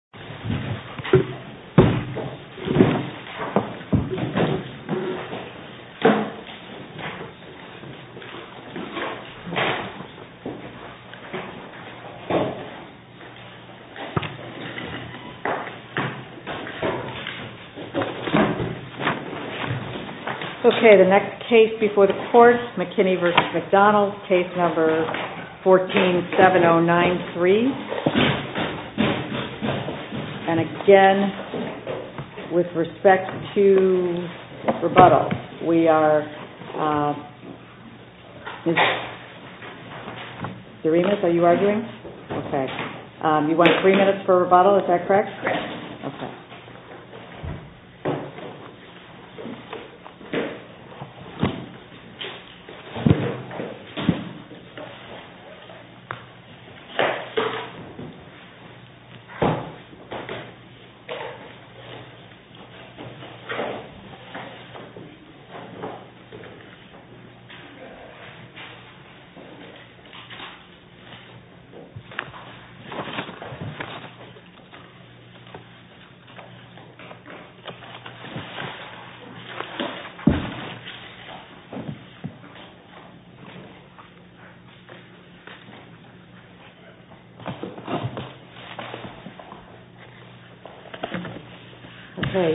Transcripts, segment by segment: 147093 and again, with respect to rebuttal, we are, Mr. Remus, are you arguing? Okay. You want three minutes for rebuttal, is that correct? Yes. Okay. Okay. Okay. Okay. Okay. Okay. Okay. Okay. Okay.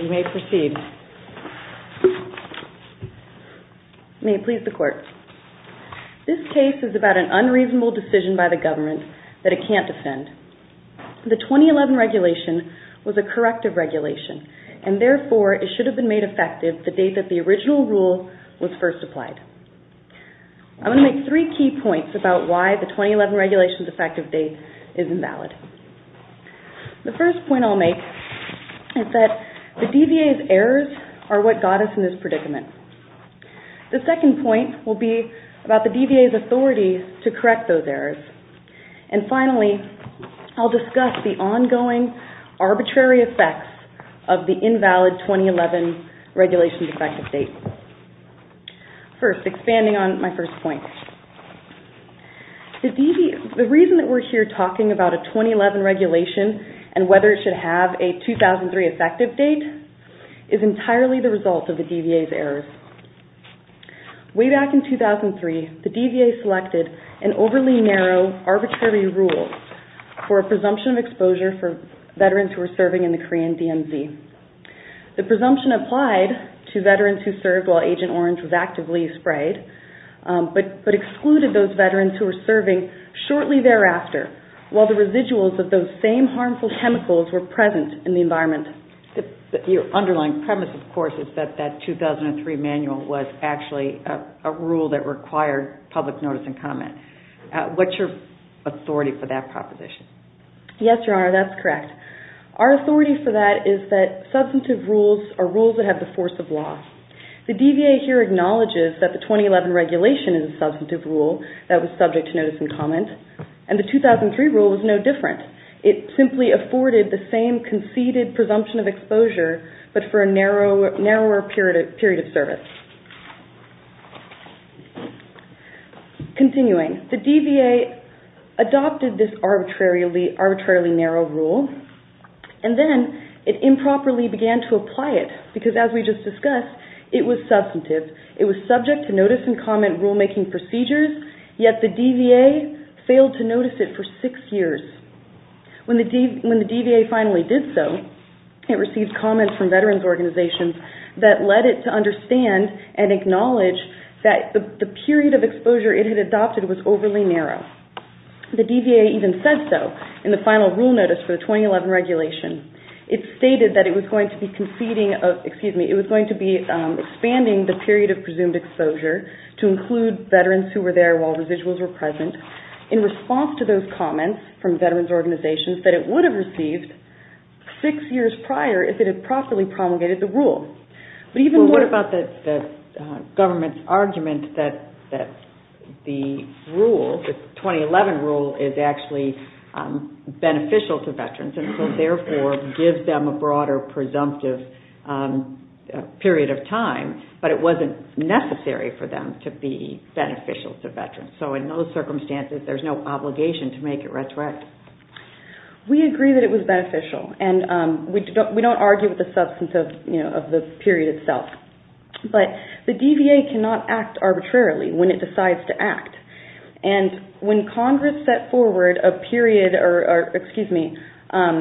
You may proceed. May it please the court. This case is about an unreasonable decision by the government that it can't defend. The 2011 regulation was a corrective regulation and, therefore, it should have been made effective the date that the original rule was first applied. I'm going to make three key points about why the 2011 regulation's effective date is invalid. The first point I'll make is that the DVA's errors are what got us in this predicament. The second point will be about the DVA's authority to correct those errors. And, finally, I'll discuss the ongoing arbitrary effects of the invalid 2011 regulation's effective date. First, expanding on my first point, the reason that we're here talking about a 2011 regulation and whether it should have a 2003 effective date is entirely the result of the DVA's errors. Way back in 2003, the DVA selected an overly narrow arbitrary rule for a presumption of exposure for veterans who were serving in the Korean DMZ. The presumption applied to veterans who served while Agent Orange was actively sprayed, but excluded those veterans who were serving shortly thereafter while the residuals of those same harmful chemicals were present in the environment. Your underlying premise, of course, is that that 2003 manual was actually a rule that required public notice and comment. What's your authority for that proposition? Yes, Your Honor, that's correct. Our authority for that is that substantive rules are rules that have the force of law. The DVA here acknowledges that the 2011 regulation is a substantive rule that was subject to notice and comment, and the 2003 rule was no different. It simply afforded the same conceded presumption of exposure, but for a narrower period of service. Continuing, the DVA adopted this arbitrarily narrow rule, and then it improperly began to apply it, because as we just discussed, it was substantive. It was subject to notice and comment rulemaking procedures, yet the DVA failed to notice it for six years. When the DVA finally did so, it received comments from veterans organizations that led it to understand and acknowledge that the period of exposure it had adopted was overly narrow. The DVA even said so in the final rule notice for the 2011 regulation. It stated that it was going to be expanding the period of presumed exposure to include veterans who were there while residuals were present in response to those comments from veterans organizations that it would have received six years prior if it had properly promulgated the rule. What about the government's argument that the rule, the 2011 rule, is actually beneficial to veterans, and so therefore gives them a broader presumptive period of time, but it wasn't necessary for them to be beneficial to veterans. So in those circumstances, there's no obligation to make it retroactive. We agree that it was beneficial, and we don't argue with the substance of the period itself, but the DVA cannot act arbitrarily when it decides to act. When Congress set forward a period of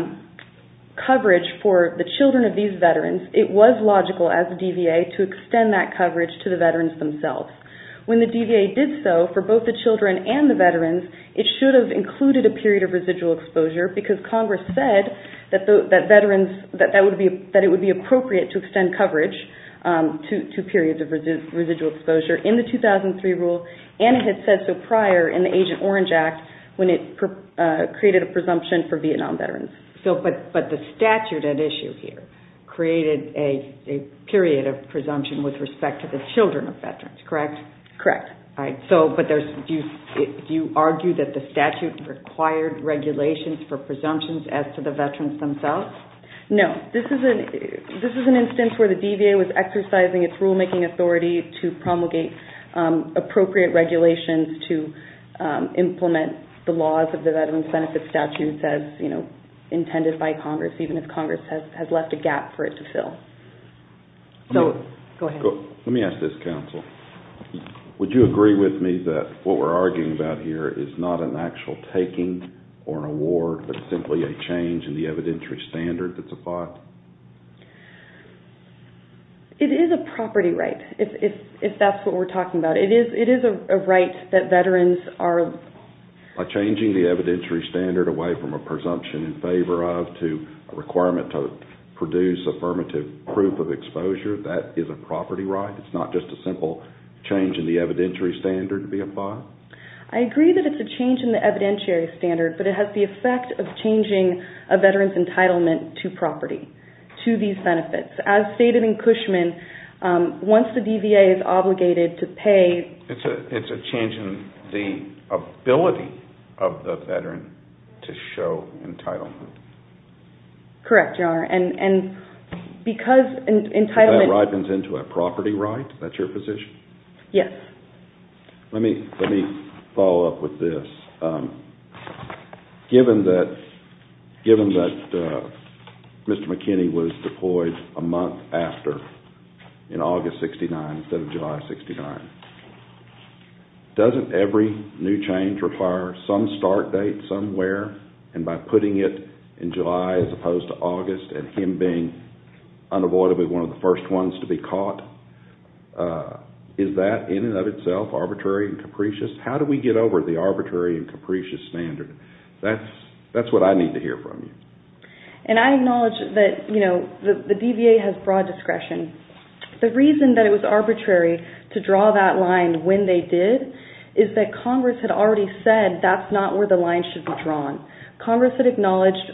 coverage for the children of these veterans, it was logical as the DVA to extend that coverage to the veterans themselves. When the DVA did so for both the children and the veterans, it should have included a period of residual exposure because Congress said that it would be appropriate to extend coverage to periods of residual exposure. In the 2003 rule, and it had said so prior in the Agent Orange Act, when it created a presumption for Vietnam veterans. But the statute at issue here created a period of presumption with respect to the children of veterans, correct? Correct. Do you argue that the statute required regulations for presumptions as to the veterans themselves? No. This is an instance where the DVA was exercising its rulemaking authority to promulgate appropriate regulations to implement the laws of the Veterans Benefit Statute as intended by Congress, even if Congress has left a gap for it to fill. So, go ahead. Let me ask this, counsel. Would you agree with me that what we're arguing about here is not an actual taking or an award, but simply a change in the evidentiary standard that's applied? It is a property right, if that's what we're talking about. It is a right that veterans are... By changing the evidentiary standard away from a presumption in favor of to a requirement to produce affirmative proof of exposure, that is a property right? It's not just a simple change in the evidentiary standard to be applied? I agree that it's a change in the evidentiary standard, but it has the effect of changing a veteran's entitlement to property, to these benefits. As stated in Cushman, once the DVA is obligated to pay... It's a change in the ability of the veteran to show entitlement. Correct, Your Honor. And because entitlement... That ripens into a property right? That's your position? Yes. Let me follow up with this. Given that Mr. McKinney was deployed a month after, in August of 1969 instead of July of 1969, doesn't every new change require some start date somewhere? And by putting it in July as opposed to August, and him being unavoidably one of the first ones to be caught, is that in and of itself arbitrary and capricious? How do we get over the arbitrary and capricious standard? That's what I need to hear from you. And I acknowledge that the DVA has broad discretion. The reason that it was arbitrary to draw that line when they did is that Congress had already said that's not where the line should be drawn. Congress had acknowledged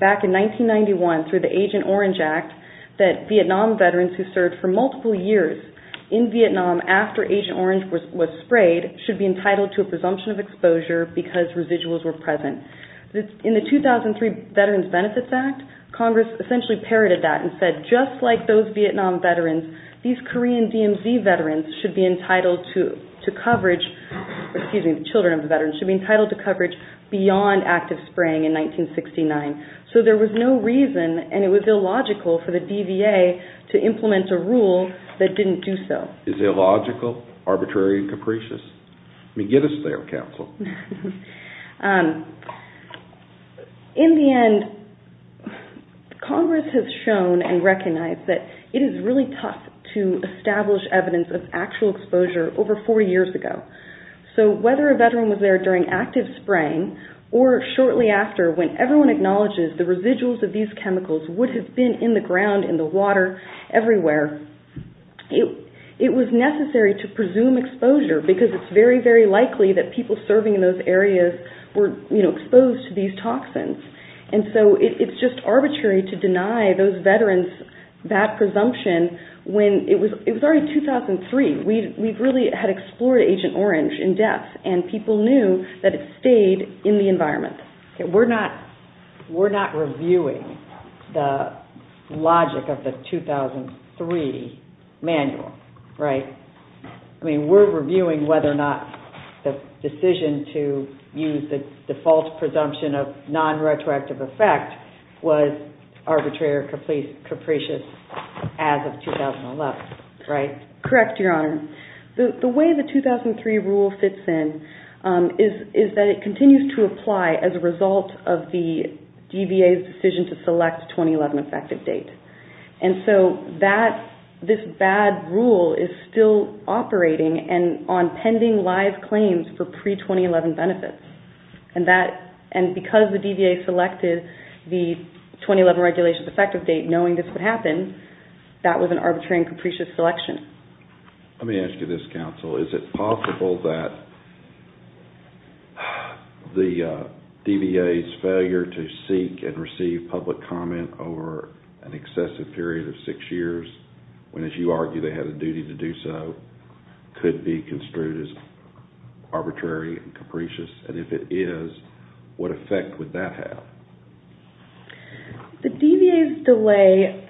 back in 1991 through the Agent Orange Act that Vietnam veterans who served for multiple years in Vietnam after Agent Orange was sprayed should be entitled to a presumption of exposure because residuals were present. In the 2003 Veterans Benefits Act, Congress essentially parroted that and said just like those Vietnam veterans, these Korean DMZ veterans should be entitled to coverage, excuse me, the children of the veterans, should be entitled to coverage beyond active spraying in 1969. So there was no reason, and it was illogical, for the DVA to implement a rule that didn't do so. Is illogical, arbitrary, and capricious? I mean, get us there, counsel. In the end, Congress has shown and recognized that it is really tough to establish evidence of actual exposure over four years ago. So whether a veteran was there during active spraying, or shortly after when everyone acknowledges the residuals of these chemicals would have been in the ground, in the water, everywhere, it was necessary to presume exposure because it's very, very likely that people serving in those areas were exposed to these toxins. And so it's just arbitrary to deny those veterans that presumption when it was already 2003. We really had explored Agent Orange in depth, and people knew that it stayed in the environment. We're not reviewing the logic of the 2003 manual, right? I mean, we're reviewing whether or not the decision to use the default presumption of non-retroactive effect was arbitrary or capricious as of 2011, right? Correct, Your Honor. The way the 2003 rule fits in is that it continues to apply as a result of the DVA's decision to select 2011 effective date. And so this bad rule is still operating on pending live claims for pre-2011 benefits. And because the DVA selected the 2011 regulations effective date knowing this would happen, that was an arbitrary and capricious selection. Let me ask you this, counsel. Is it possible that the DVA's failure to seek and receive public comment over an excessive period of six years, when, as you argue, they had a duty to do so, could be construed as arbitrary and capricious? And if it is, what effect would that have? The DVA's delay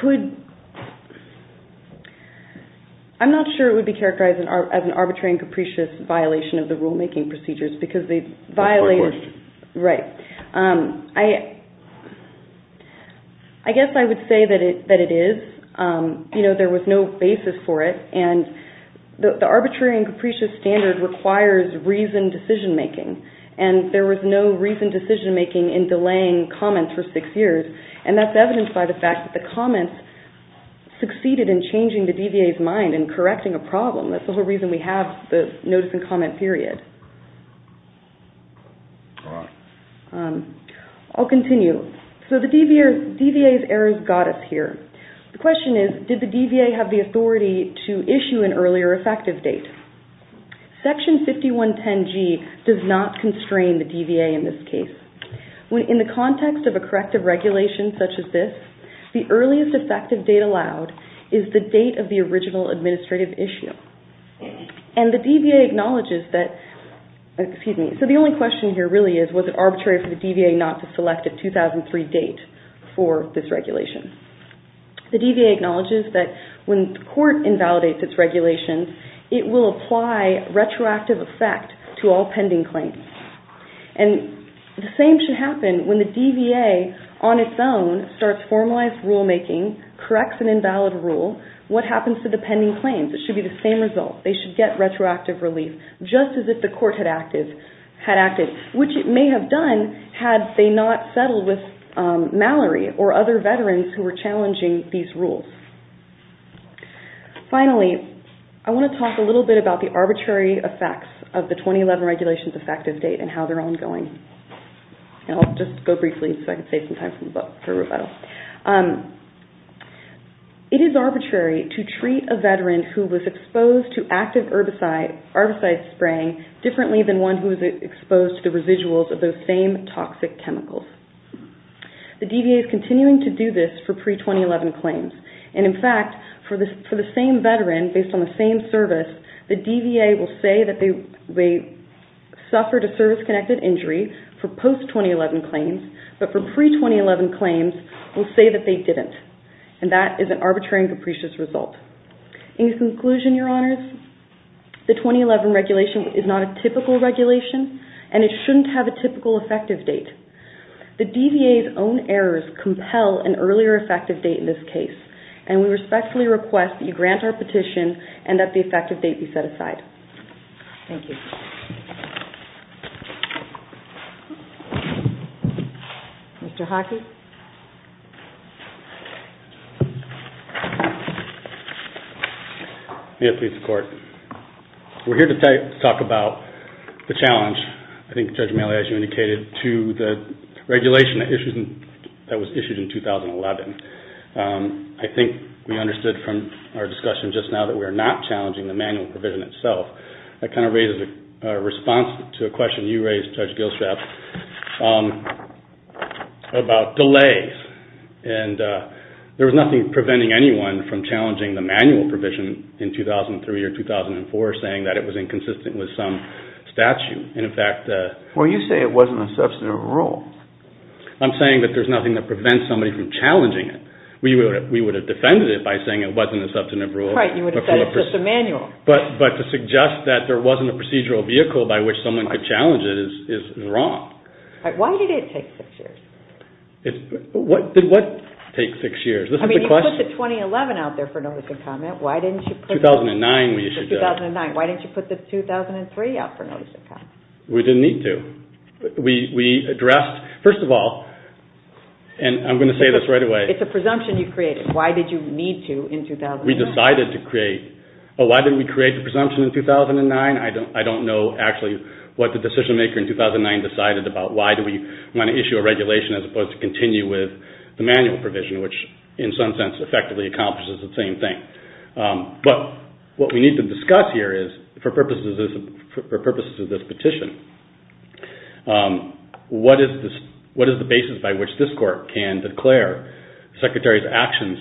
could... I'm not sure it would be characterized as an arbitrary and capricious violation of the rulemaking procedures because they violate... That's my question. Right. I guess I would say that it is. You know, there was no basis for it. And the arbitrary and capricious standard requires reasoned decision making. And there was no reasoned decision making in delaying comments for six years. And that's evidenced by the fact that the comments succeeded in changing the DVA's mind and correcting a problem. That's the whole reason we have the notice and comment period. All right. I'll continue. So the DVA's errors got us here. The question is, did the DVA have the authority to issue an earlier effective date? Section 5110G does not constrain the DVA in this case. In the context of a corrective regulation such as this, the earliest effective date allowed is the date of the original administrative issue. And the DVA acknowledges that... Excuse me. So the only question here really is, was it arbitrary for the DVA not to select a 2003 date for this regulation? The DVA acknowledges that when the court invalidates its regulation, it will apply retroactive effect to all pending claims. And the same should happen when the DVA on its own starts formalized rulemaking, corrects an invalid rule, what happens to the pending claims? It should be the same result. They should get retroactive relief, just as if the court had acted, which it may have done had they not settled with Mallory or other veterans who were challenging these rules. Finally, I want to talk a little bit about the arbitrary effects of the 2011 regulations effective date and how they're ongoing. And I'll just go briefly so I can save some time for rebuttal. It is arbitrary to treat a veteran who was exposed to active herbicide spraying differently than one who was exposed to the residuals of those same toxic chemicals. The DVA is continuing to do this for pre-2011 claims. And in fact, for the same veteran, based on the same service, the DVA will say that they suffered a service-connected injury for post-2011 claims, but for pre-2011 claims will say that they didn't. And that is an arbitrary and capricious result. In conclusion, Your Honors, the 2011 regulation is not a typical regulation, and it shouldn't have a typical effective date. The DVA's own errors compel an earlier effective date in this case, and we respectfully request that you grant our petition and that the effective date be set aside. Thank you. Mr. Hockey? May it please the Court. We're here to talk about the challenge, I think Judge Malley, as you indicated, to the regulation that was issued in 2011. I think we understood from our discussion just now that we are not challenging the manual provision itself. That kind of raises a response to a question you raised, Judge Gilstrap, about delays. There was nothing preventing anyone from challenging the manual provision in 2003 or 2004, saying that it was inconsistent with some statute. Well, you say it wasn't a substantive rule. I'm saying that there's nothing that prevents somebody from challenging it. We would have defended it by saying it wasn't a substantive rule. Right, you would have said it's just a manual. But to suggest that there wasn't a procedural vehicle by which someone could challenge it is wrong. Why did it take six years? Did what take six years? I mean, you put the 2011 out there for notice and comment. 2009 we issued that. Why didn't you put the 2003 out for notice and comment? We didn't need to. We addressed, first of all, and I'm going to say this right away. It's a presumption you created. Why did you need to in 2009? We decided to create. Why didn't we create the presumption in 2009? I don't know actually what the decision maker in 2009 decided about. Why do we want to issue a regulation as opposed to continue with the manual provision, which in some sense effectively accomplishes the same thing. But what we need to discuss here is, for purposes of this petition, what is the basis by which this Court can declare the Secretary's actions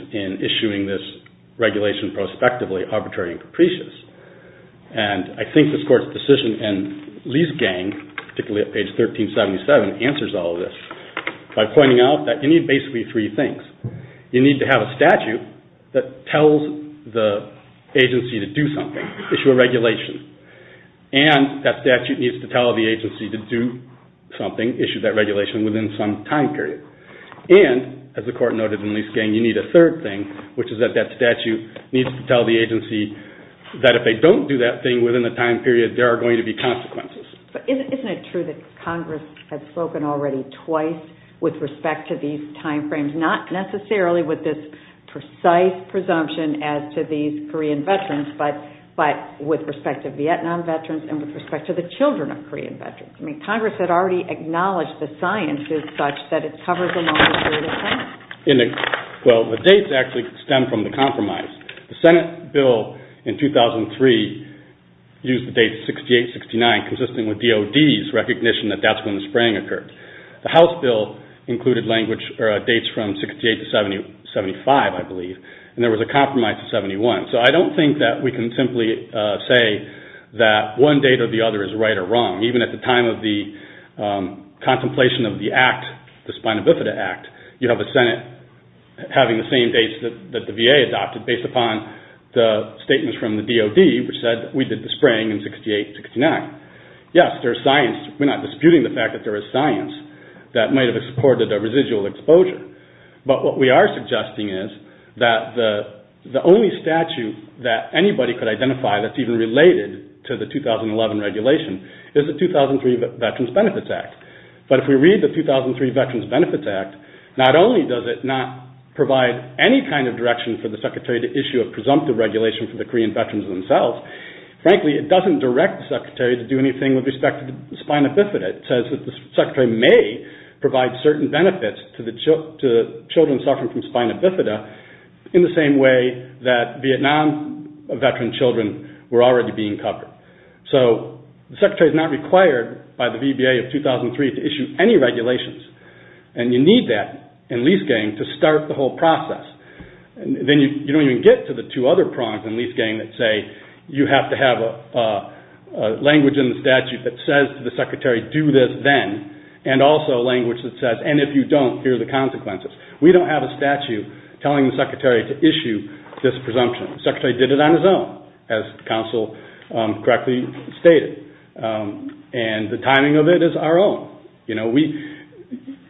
And I think this Court's decision in Lease Gang, particularly at page 1377, answers all of this by pointing out that you need basically three things. You need to have a statute that tells the agency to do something, issue a regulation, and that statute needs to tell the agency to do something, issue that regulation within some time period. And, as the Court noted in Lease Gang, you need a third thing, which is that that statute needs to tell the agency that if they don't do that thing within a time period, there are going to be consequences. But isn't it true that Congress has spoken already twice with respect to these time frames, not necessarily with this precise presumption as to these Korean veterans, but with respect to Vietnam veterans and with respect to the children of Korean veterans? I mean, Congress had already acknowledged the science is such that it covers a long period of time. Well, the dates actually stem from the compromise. The Senate bill in 2003 used the date 68-69, consisting with DOD's recognition that that's when the spraying occurred. The House bill included dates from 68-75, I believe, and there was a compromise of 71. So I don't think that we can simply say that one date or the other is right or wrong. Even at the time of the contemplation of the act, the Spina Bifida Act, you have a Senate having the same dates that the VA adopted based upon the statements from the DOD, which said that we did the spraying in 68-69. Yes, there's science. We're not disputing the fact that there is science that might have supported a residual exposure. But what we are suggesting is that the only statute that anybody could identify that's even related to the 2011 regulation is the 2003 Veterans Benefits Act. But if we read the 2003 Veterans Benefits Act, not only does it not provide any kind of direction for the Secretary to issue a presumptive regulation for the Korean veterans themselves, frankly, it doesn't direct the Secretary to do anything with respect to the Spina Bifida. It says that the Secretary may provide certain benefits to children suffering from Spina Bifida in the same way that Vietnam veteran children were already being covered. So the Secretary is not required by the VBA of 2003 to issue any regulations. And you need that in lease-gain to start the whole process. Then you don't even get to the two other prongs in lease-gain that say you have to have language in the statute that says to the Secretary, do this then, and also language that says, and if you don't, here are the consequences. We don't have a statute telling the Secretary to issue this presumption. The Secretary did it on his own, as counsel correctly stated, and the timing of it is our own.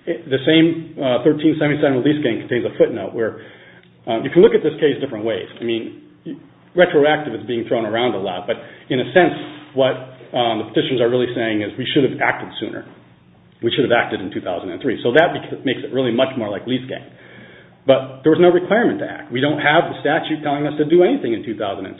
The same 1377 lease-gain contains a footnote. You can look at this case different ways. Retroactive is being thrown around a lot, but in a sense, what the petitions are really saying is we should have acted sooner. We should have acted in 2003. So that makes it really much more like lease-gain. But there was no requirement to act. We don't have the statute telling us to do anything in 2003.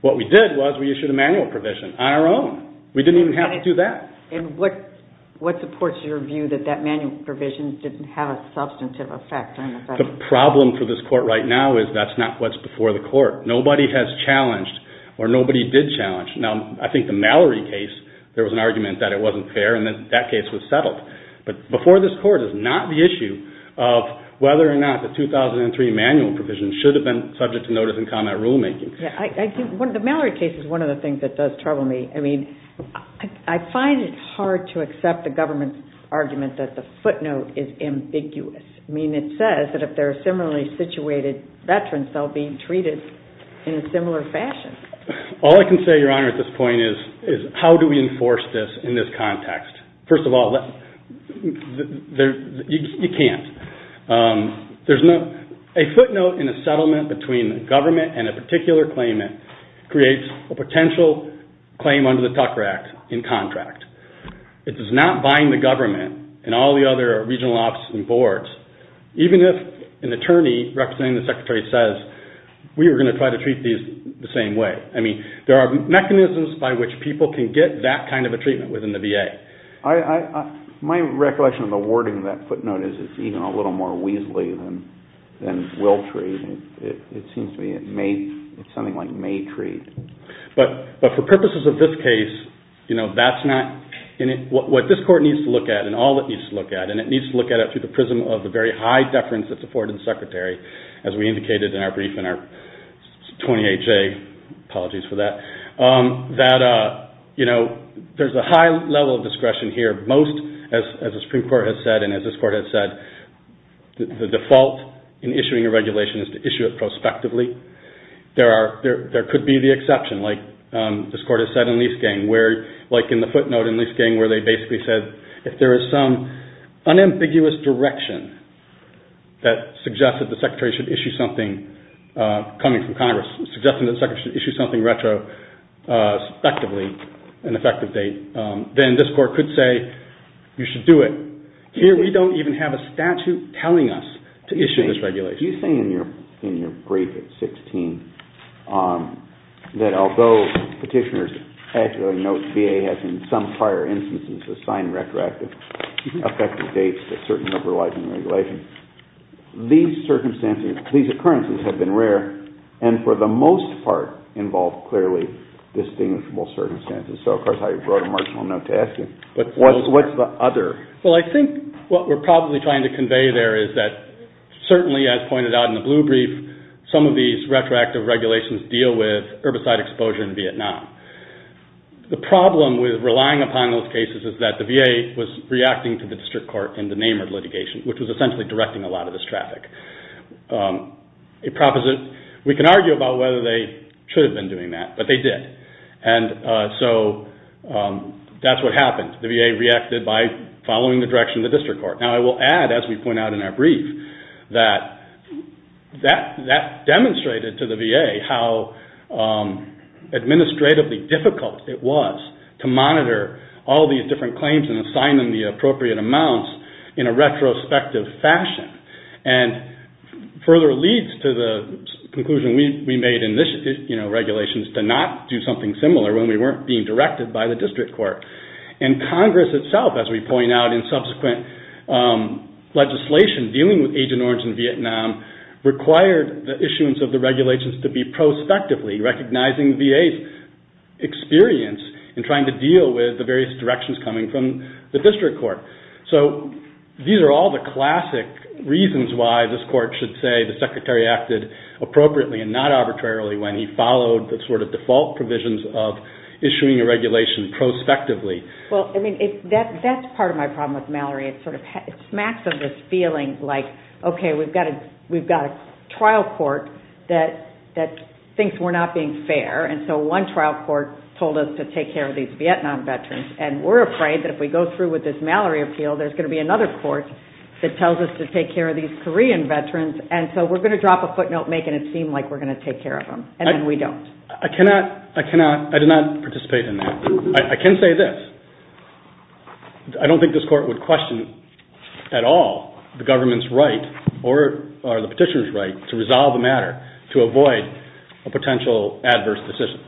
What we did was we issued a manual provision on our own. We didn't even have to do that. And what supports your view that that manual provision didn't have a substantive effect? The problem for this Court right now is that's not what's before the Court. Nobody has challenged, or nobody did challenge. Now, I think the Mallory case, there was an argument that it wasn't fair, and that case was settled. But before this Court, it's not the issue of whether or not the 2003 manual provision should have been subject to notice and comment rulemaking. Yeah, I think the Mallory case is one of the things that does trouble me. I mean, I find it hard to accept the government's argument that the footnote is ambiguous. I mean, it says that if there are similarly situated veterans, they'll be treated in a similar fashion. All I can say, Your Honor, at this point is how do we enforce this in this context? First of all, you can't. A footnote in a settlement between government and a particular claimant creates a potential claim under the Tucker Act in contract. It does not bind the government and all the other regional offices and boards. Even if an attorney representing the Secretary says, we are going to try to treat these the same way. I mean, there are mechanisms by which people can get that kind of a treatment within the VA. My recollection of the wording of that footnote is it's even a little more weaselly than will treat. It seems to me it's something like may treat. But for purposes of this case, what this Court needs to look at and all it needs to look at, and it needs to look at it through the prism of the very high deference that's afforded the Secretary, as we indicated in our brief in our 28-J, apologies for that, that there's a high level of discretion here. Most, as the Supreme Court has said, and as this Court has said, the default in issuing a regulation is to issue it prospectively. There could be the exception, like this Court has said in Leisgang, where, like in the footnote in Leisgang where they basically said, if there is some unambiguous direction that suggests that the Secretary should issue something coming from Congress, suggesting that the Secretary should issue something retro, prospectively, an effective date, then this Court could say, you should do it. Here we don't even have a statute telling us to issue this regulation. But you say in your brief at 16 that although petitioners actually note VA has, in some prior instances, assigned retroactive effective dates to a certain number of licensing regulations, these circumstances, these occurrences have been rare, and for the most part involve clearly distinguishable circumstances. So, of course, I brought a marginal note to ask you, what's the other? Well, I think what we're probably trying to convey there is that certainly, as pointed out in the blue brief, some of these retroactive regulations deal with herbicide exposure in Vietnam. The problem with relying upon those cases is that the VA was reacting to the District Court in the Namur litigation, which was essentially directing a lot of this traffic. We can argue about whether they should have been doing that, but they did. And so that's what happened. The VA reacted by following the direction of the District Court. Now, I will add, as we point out in our brief, that that demonstrated to the VA how administratively difficult it was to monitor all these different claims and assign them the appropriate amounts in a retrospective fashion and further leads to the conclusion we made in this, you know, regulations to not do something similar when we weren't being directed by the District Court. And Congress itself, as we point out in subsequent legislation dealing with Agent Orange in Vietnam, required the issuance of the regulations to be prospectively recognizing VA's experience in trying to deal with the various directions coming from the District Court. So these are all the classic reasons why this Court should say the Secretary acted appropriately and not arbitrarily when he followed the sort of default provisions of issuing a regulation prospectively. Well, I mean, that's part of my problem with Mallory. It sort of smacks of this feeling like, okay, we've got a trial court that thinks we're not being fair. And so one trial court told us to take care of these Vietnam veterans. And we're afraid that if we go through with this Mallory appeal, there's going to be another court that tells us to take care of these Korean veterans. And so we're going to drop a footnote making it seem like we're going to take care of them. And then we don't. I cannot, I cannot, I did not participate in that. I can say this. I don't think this Court would question at all the government's right or the petitioner's right to resolve the matter to avoid a potential adverse decision.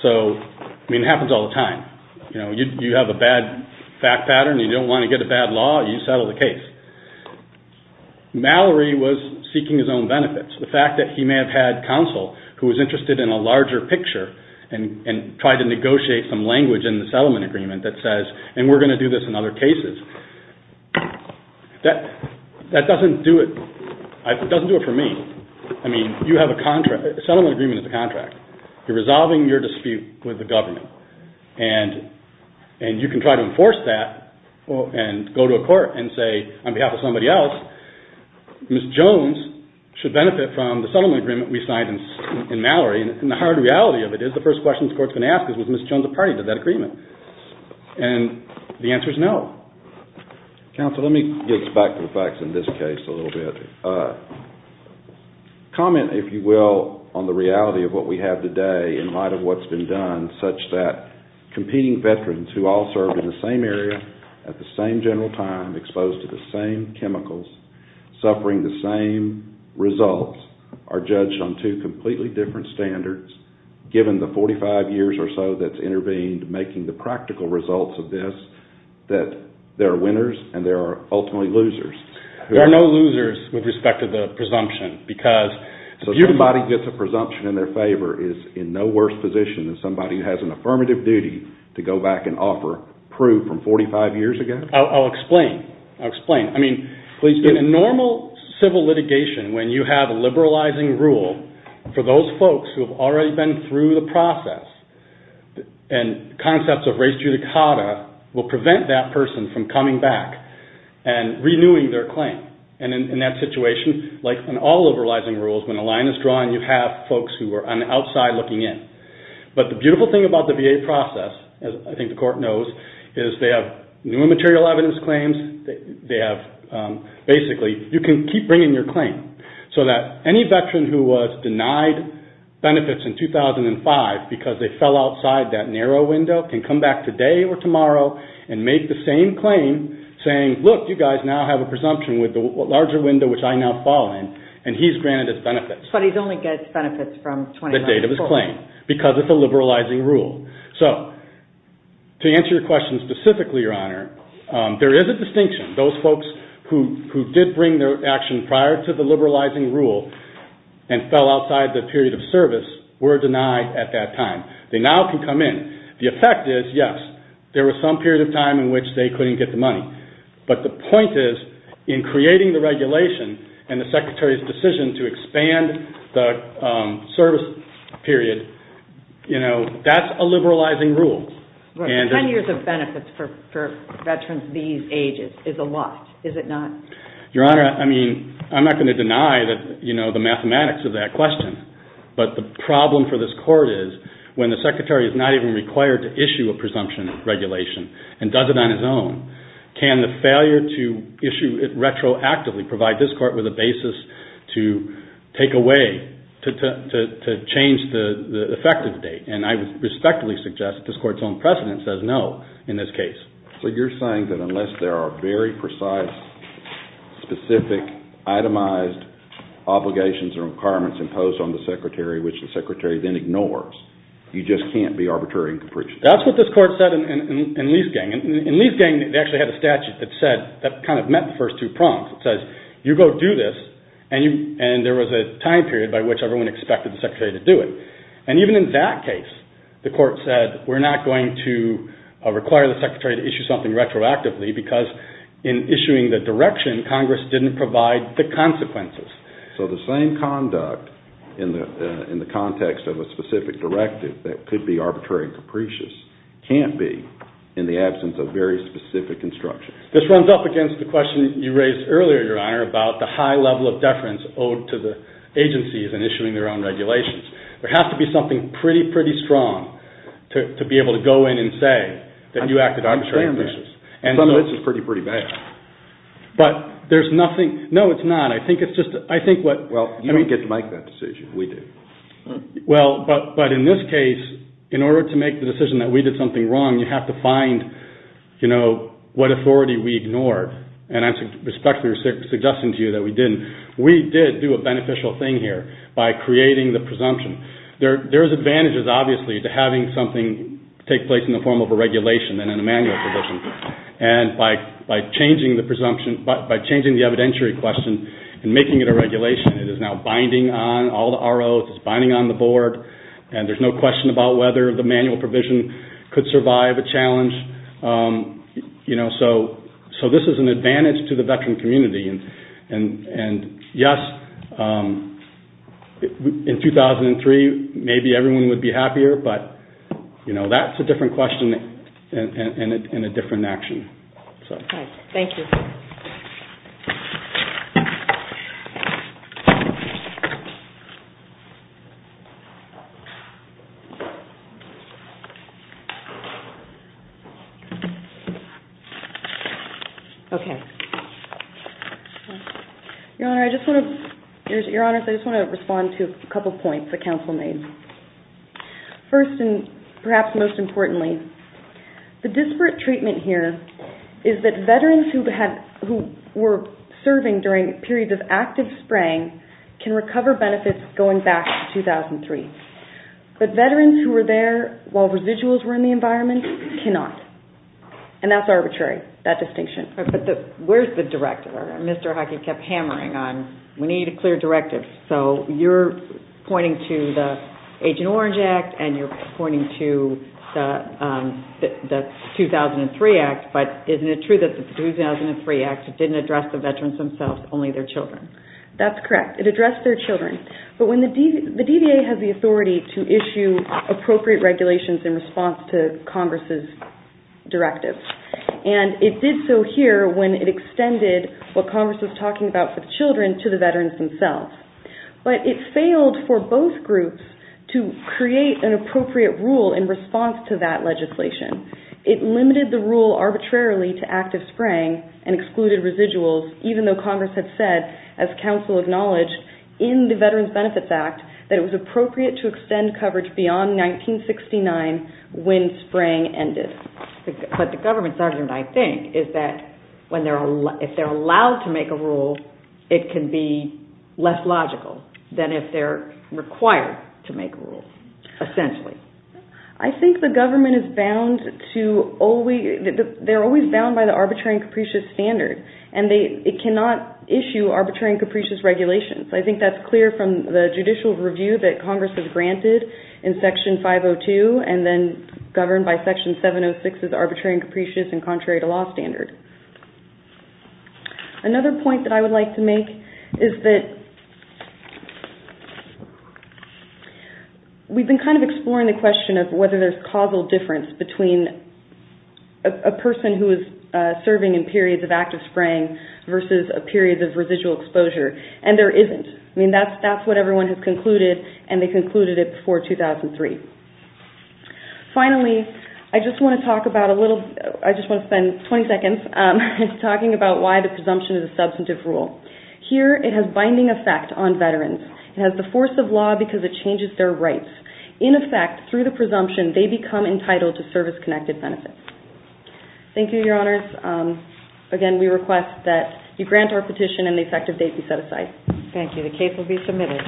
So, I mean, it happens all the time. You know, you have a bad fact pattern. You don't want to get a bad law. You settle the case. Mallory was seeking his own benefits. The fact that he may have had counsel who was interested in a larger picture and tried to negotiate some language in the settlement agreement that says, and we're going to do this in other cases. That doesn't do it. It doesn't do it for me. I mean, you have a contract. A settlement agreement is a contract. You're resolving your dispute with the government. And you can try to enforce that and go to a court and say, on behalf of somebody else, Ms. Jones should benefit from the settlement agreement we signed in Mallory. And the hard reality of it is the first question this Court is going to ask is, was Ms. Jones a party to that agreement? And the answer is no. Counsel, let me get back to the facts in this case a little bit. Comment, if you will, on the reality of what we have today in light of what's been done, such that competing veterans who all served in the same area at the same general time, exposed to the same chemicals, suffering the same results, are judged on two completely different standards, given the 45 years or so that's intervened making the practical results of this, that there are winners and there are ultimately losers. There are no losers with respect to the presumption. So somebody who gets a presumption in their favor is in no worse position than somebody who has an affirmative duty to go back and offer proof from 45 years ago? I'll explain. I'll explain. I mean, in normal civil litigation, when you have a liberalizing rule, for those folks who have already been through the process, and concepts of res judicata will prevent that person from coming back and renewing their claim. And in that situation, like in all liberalizing rules, when a line is drawn, you have folks who are on the outside looking in. But the beautiful thing about the VA process, as I think the court knows, is they have new material evidence claims. They have, basically, you can keep bringing your claim, so that any veteran who was denied benefits in 2005 because they fell outside that narrow window can come back today or tomorrow and make the same claim saying, look, you guys now have a presumption with the larger window which I now fall in, and he's granted his benefits. But he only gets benefits from 2019. The date of his claim, because it's a liberalizing rule. So, to answer your question specifically, Your Honor, there is a distinction. Those folks who did bring their action prior to the liberalizing rule and fell outside the period of service were denied at that time. They now can come in. The effect is, yes, there was some period of time in which they couldn't get the money. But the point is, in creating the regulation and the Secretary's decision to expand the service period, that's a liberalizing rule. Ten years of benefits for veterans these ages is a lot, is it not? Your Honor, I'm not going to deny the mathematics of that question. But the problem for this Court is, when the Secretary is not even required to issue a presumption regulation and does it on his own, can the failure to issue it retroactively provide this Court with a basis to take away, to change the effective date? And I would respectfully suggest that this Court's own precedent says no in this case. So you're saying that unless there are very precise, specific, itemized obligations or requirements imposed on the Secretary, which the Secretary then ignores, you just can't be arbitrary and capricious? That's what this Court said in Lee's gang. In Lee's gang, they actually had a statute that said, that kind of met the first two prongs. It says, you go do this. And there was a time period by which everyone expected the Secretary to do it. And even in that case, the Court said, we're not going to require the Secretary to issue something retroactively because in issuing the direction, Congress didn't provide the consequences. So the same conduct in the context of a specific directive that could be arbitrary and capricious can't be in the absence of very specific instructions. This runs up against the question you raised earlier, Your Honor, about the high level of deference owed to the agencies in issuing their own regulations. There has to be something pretty, pretty strong to be able to go in and say that you acted arbitrarily and capricious. Some of this is pretty, pretty bad. But there's nothing, no it's not. I think it's just, I think what Well, you didn't get to make that decision. We did. Well, but in this case, in order to make the decision that we did something wrong, you have to find, you know, what authority we ignored. And I'm respectfully suggesting to you that we didn't. We did do a beneficial thing here by creating the presumption. There's advantages, obviously, to having something take place in the form of a regulation and a manual provision. And by changing the presumption, by changing the evidentiary question and making it a regulation, it is now binding on all the ROs, it's binding on the board, and there's no question about whether the manual provision could survive a challenge. You know, so this is an advantage to the veteran community. And yes, in 2003, maybe everyone would be happier, but, you know, that's a different question and a different action. Thank you. Okay. Your Honor, I just want to respond to a couple points the counsel made. First and perhaps most importantly, the disparate treatment here is that veterans who were serving during periods of active spraying can recover benefits going back to 2003. But veterans who were there while residuals were in the environment cannot. And that's arbitrary, that distinction. But where's the directive? Mr. Hockey kept hammering on, we need a clear directive. So you're pointing to the Agent Orange Act and you're pointing to the 2003 Act, but isn't it true that the 2003 Act didn't address the veterans themselves, only their children? That's correct. It addressed their children. But when the DVA has the authority to issue appropriate regulations in response to Congress's directive, and it did so here when it extended what Congress was talking about with children to the veterans themselves. But it failed for both groups to create an appropriate rule in response to that legislation. It limited the rule arbitrarily to active spraying and excluded residuals, even though Congress had said, as counsel acknowledged, in the Veterans Benefits Act, that it was appropriate to extend coverage beyond 1969 when spraying ended. But the government's argument, I think, is that if they're allowed to make a rule, it can be less logical than if they're required to make a rule, essentially. I think the government is bound to always, they're always bound by the arbitrary and capricious standard, and it cannot issue arbitrary and capricious regulations. I think that's clear from the judicial review that Congress has granted in Section 502 and then governed by Section 706 as arbitrary and capricious and contrary to law standard. Another point that I would like to make is that we've been kind of exploring the question of whether there's causal difference between a person who is serving in periods of active spraying versus a period of residual exposure, and there isn't. I mean, that's what everyone has concluded, and they concluded it before 2003. Finally, I just want to spend 20 seconds talking about why the presumption is a substantive rule. Here, it has binding effect on veterans. It has the force of law because it changes their rights. In effect, through the presumption, they become entitled to service-connected benefits. Thank you, Your Honors. Again, we request that you grant our petition and the effective date be set aside. Thank you. The case will be submitted.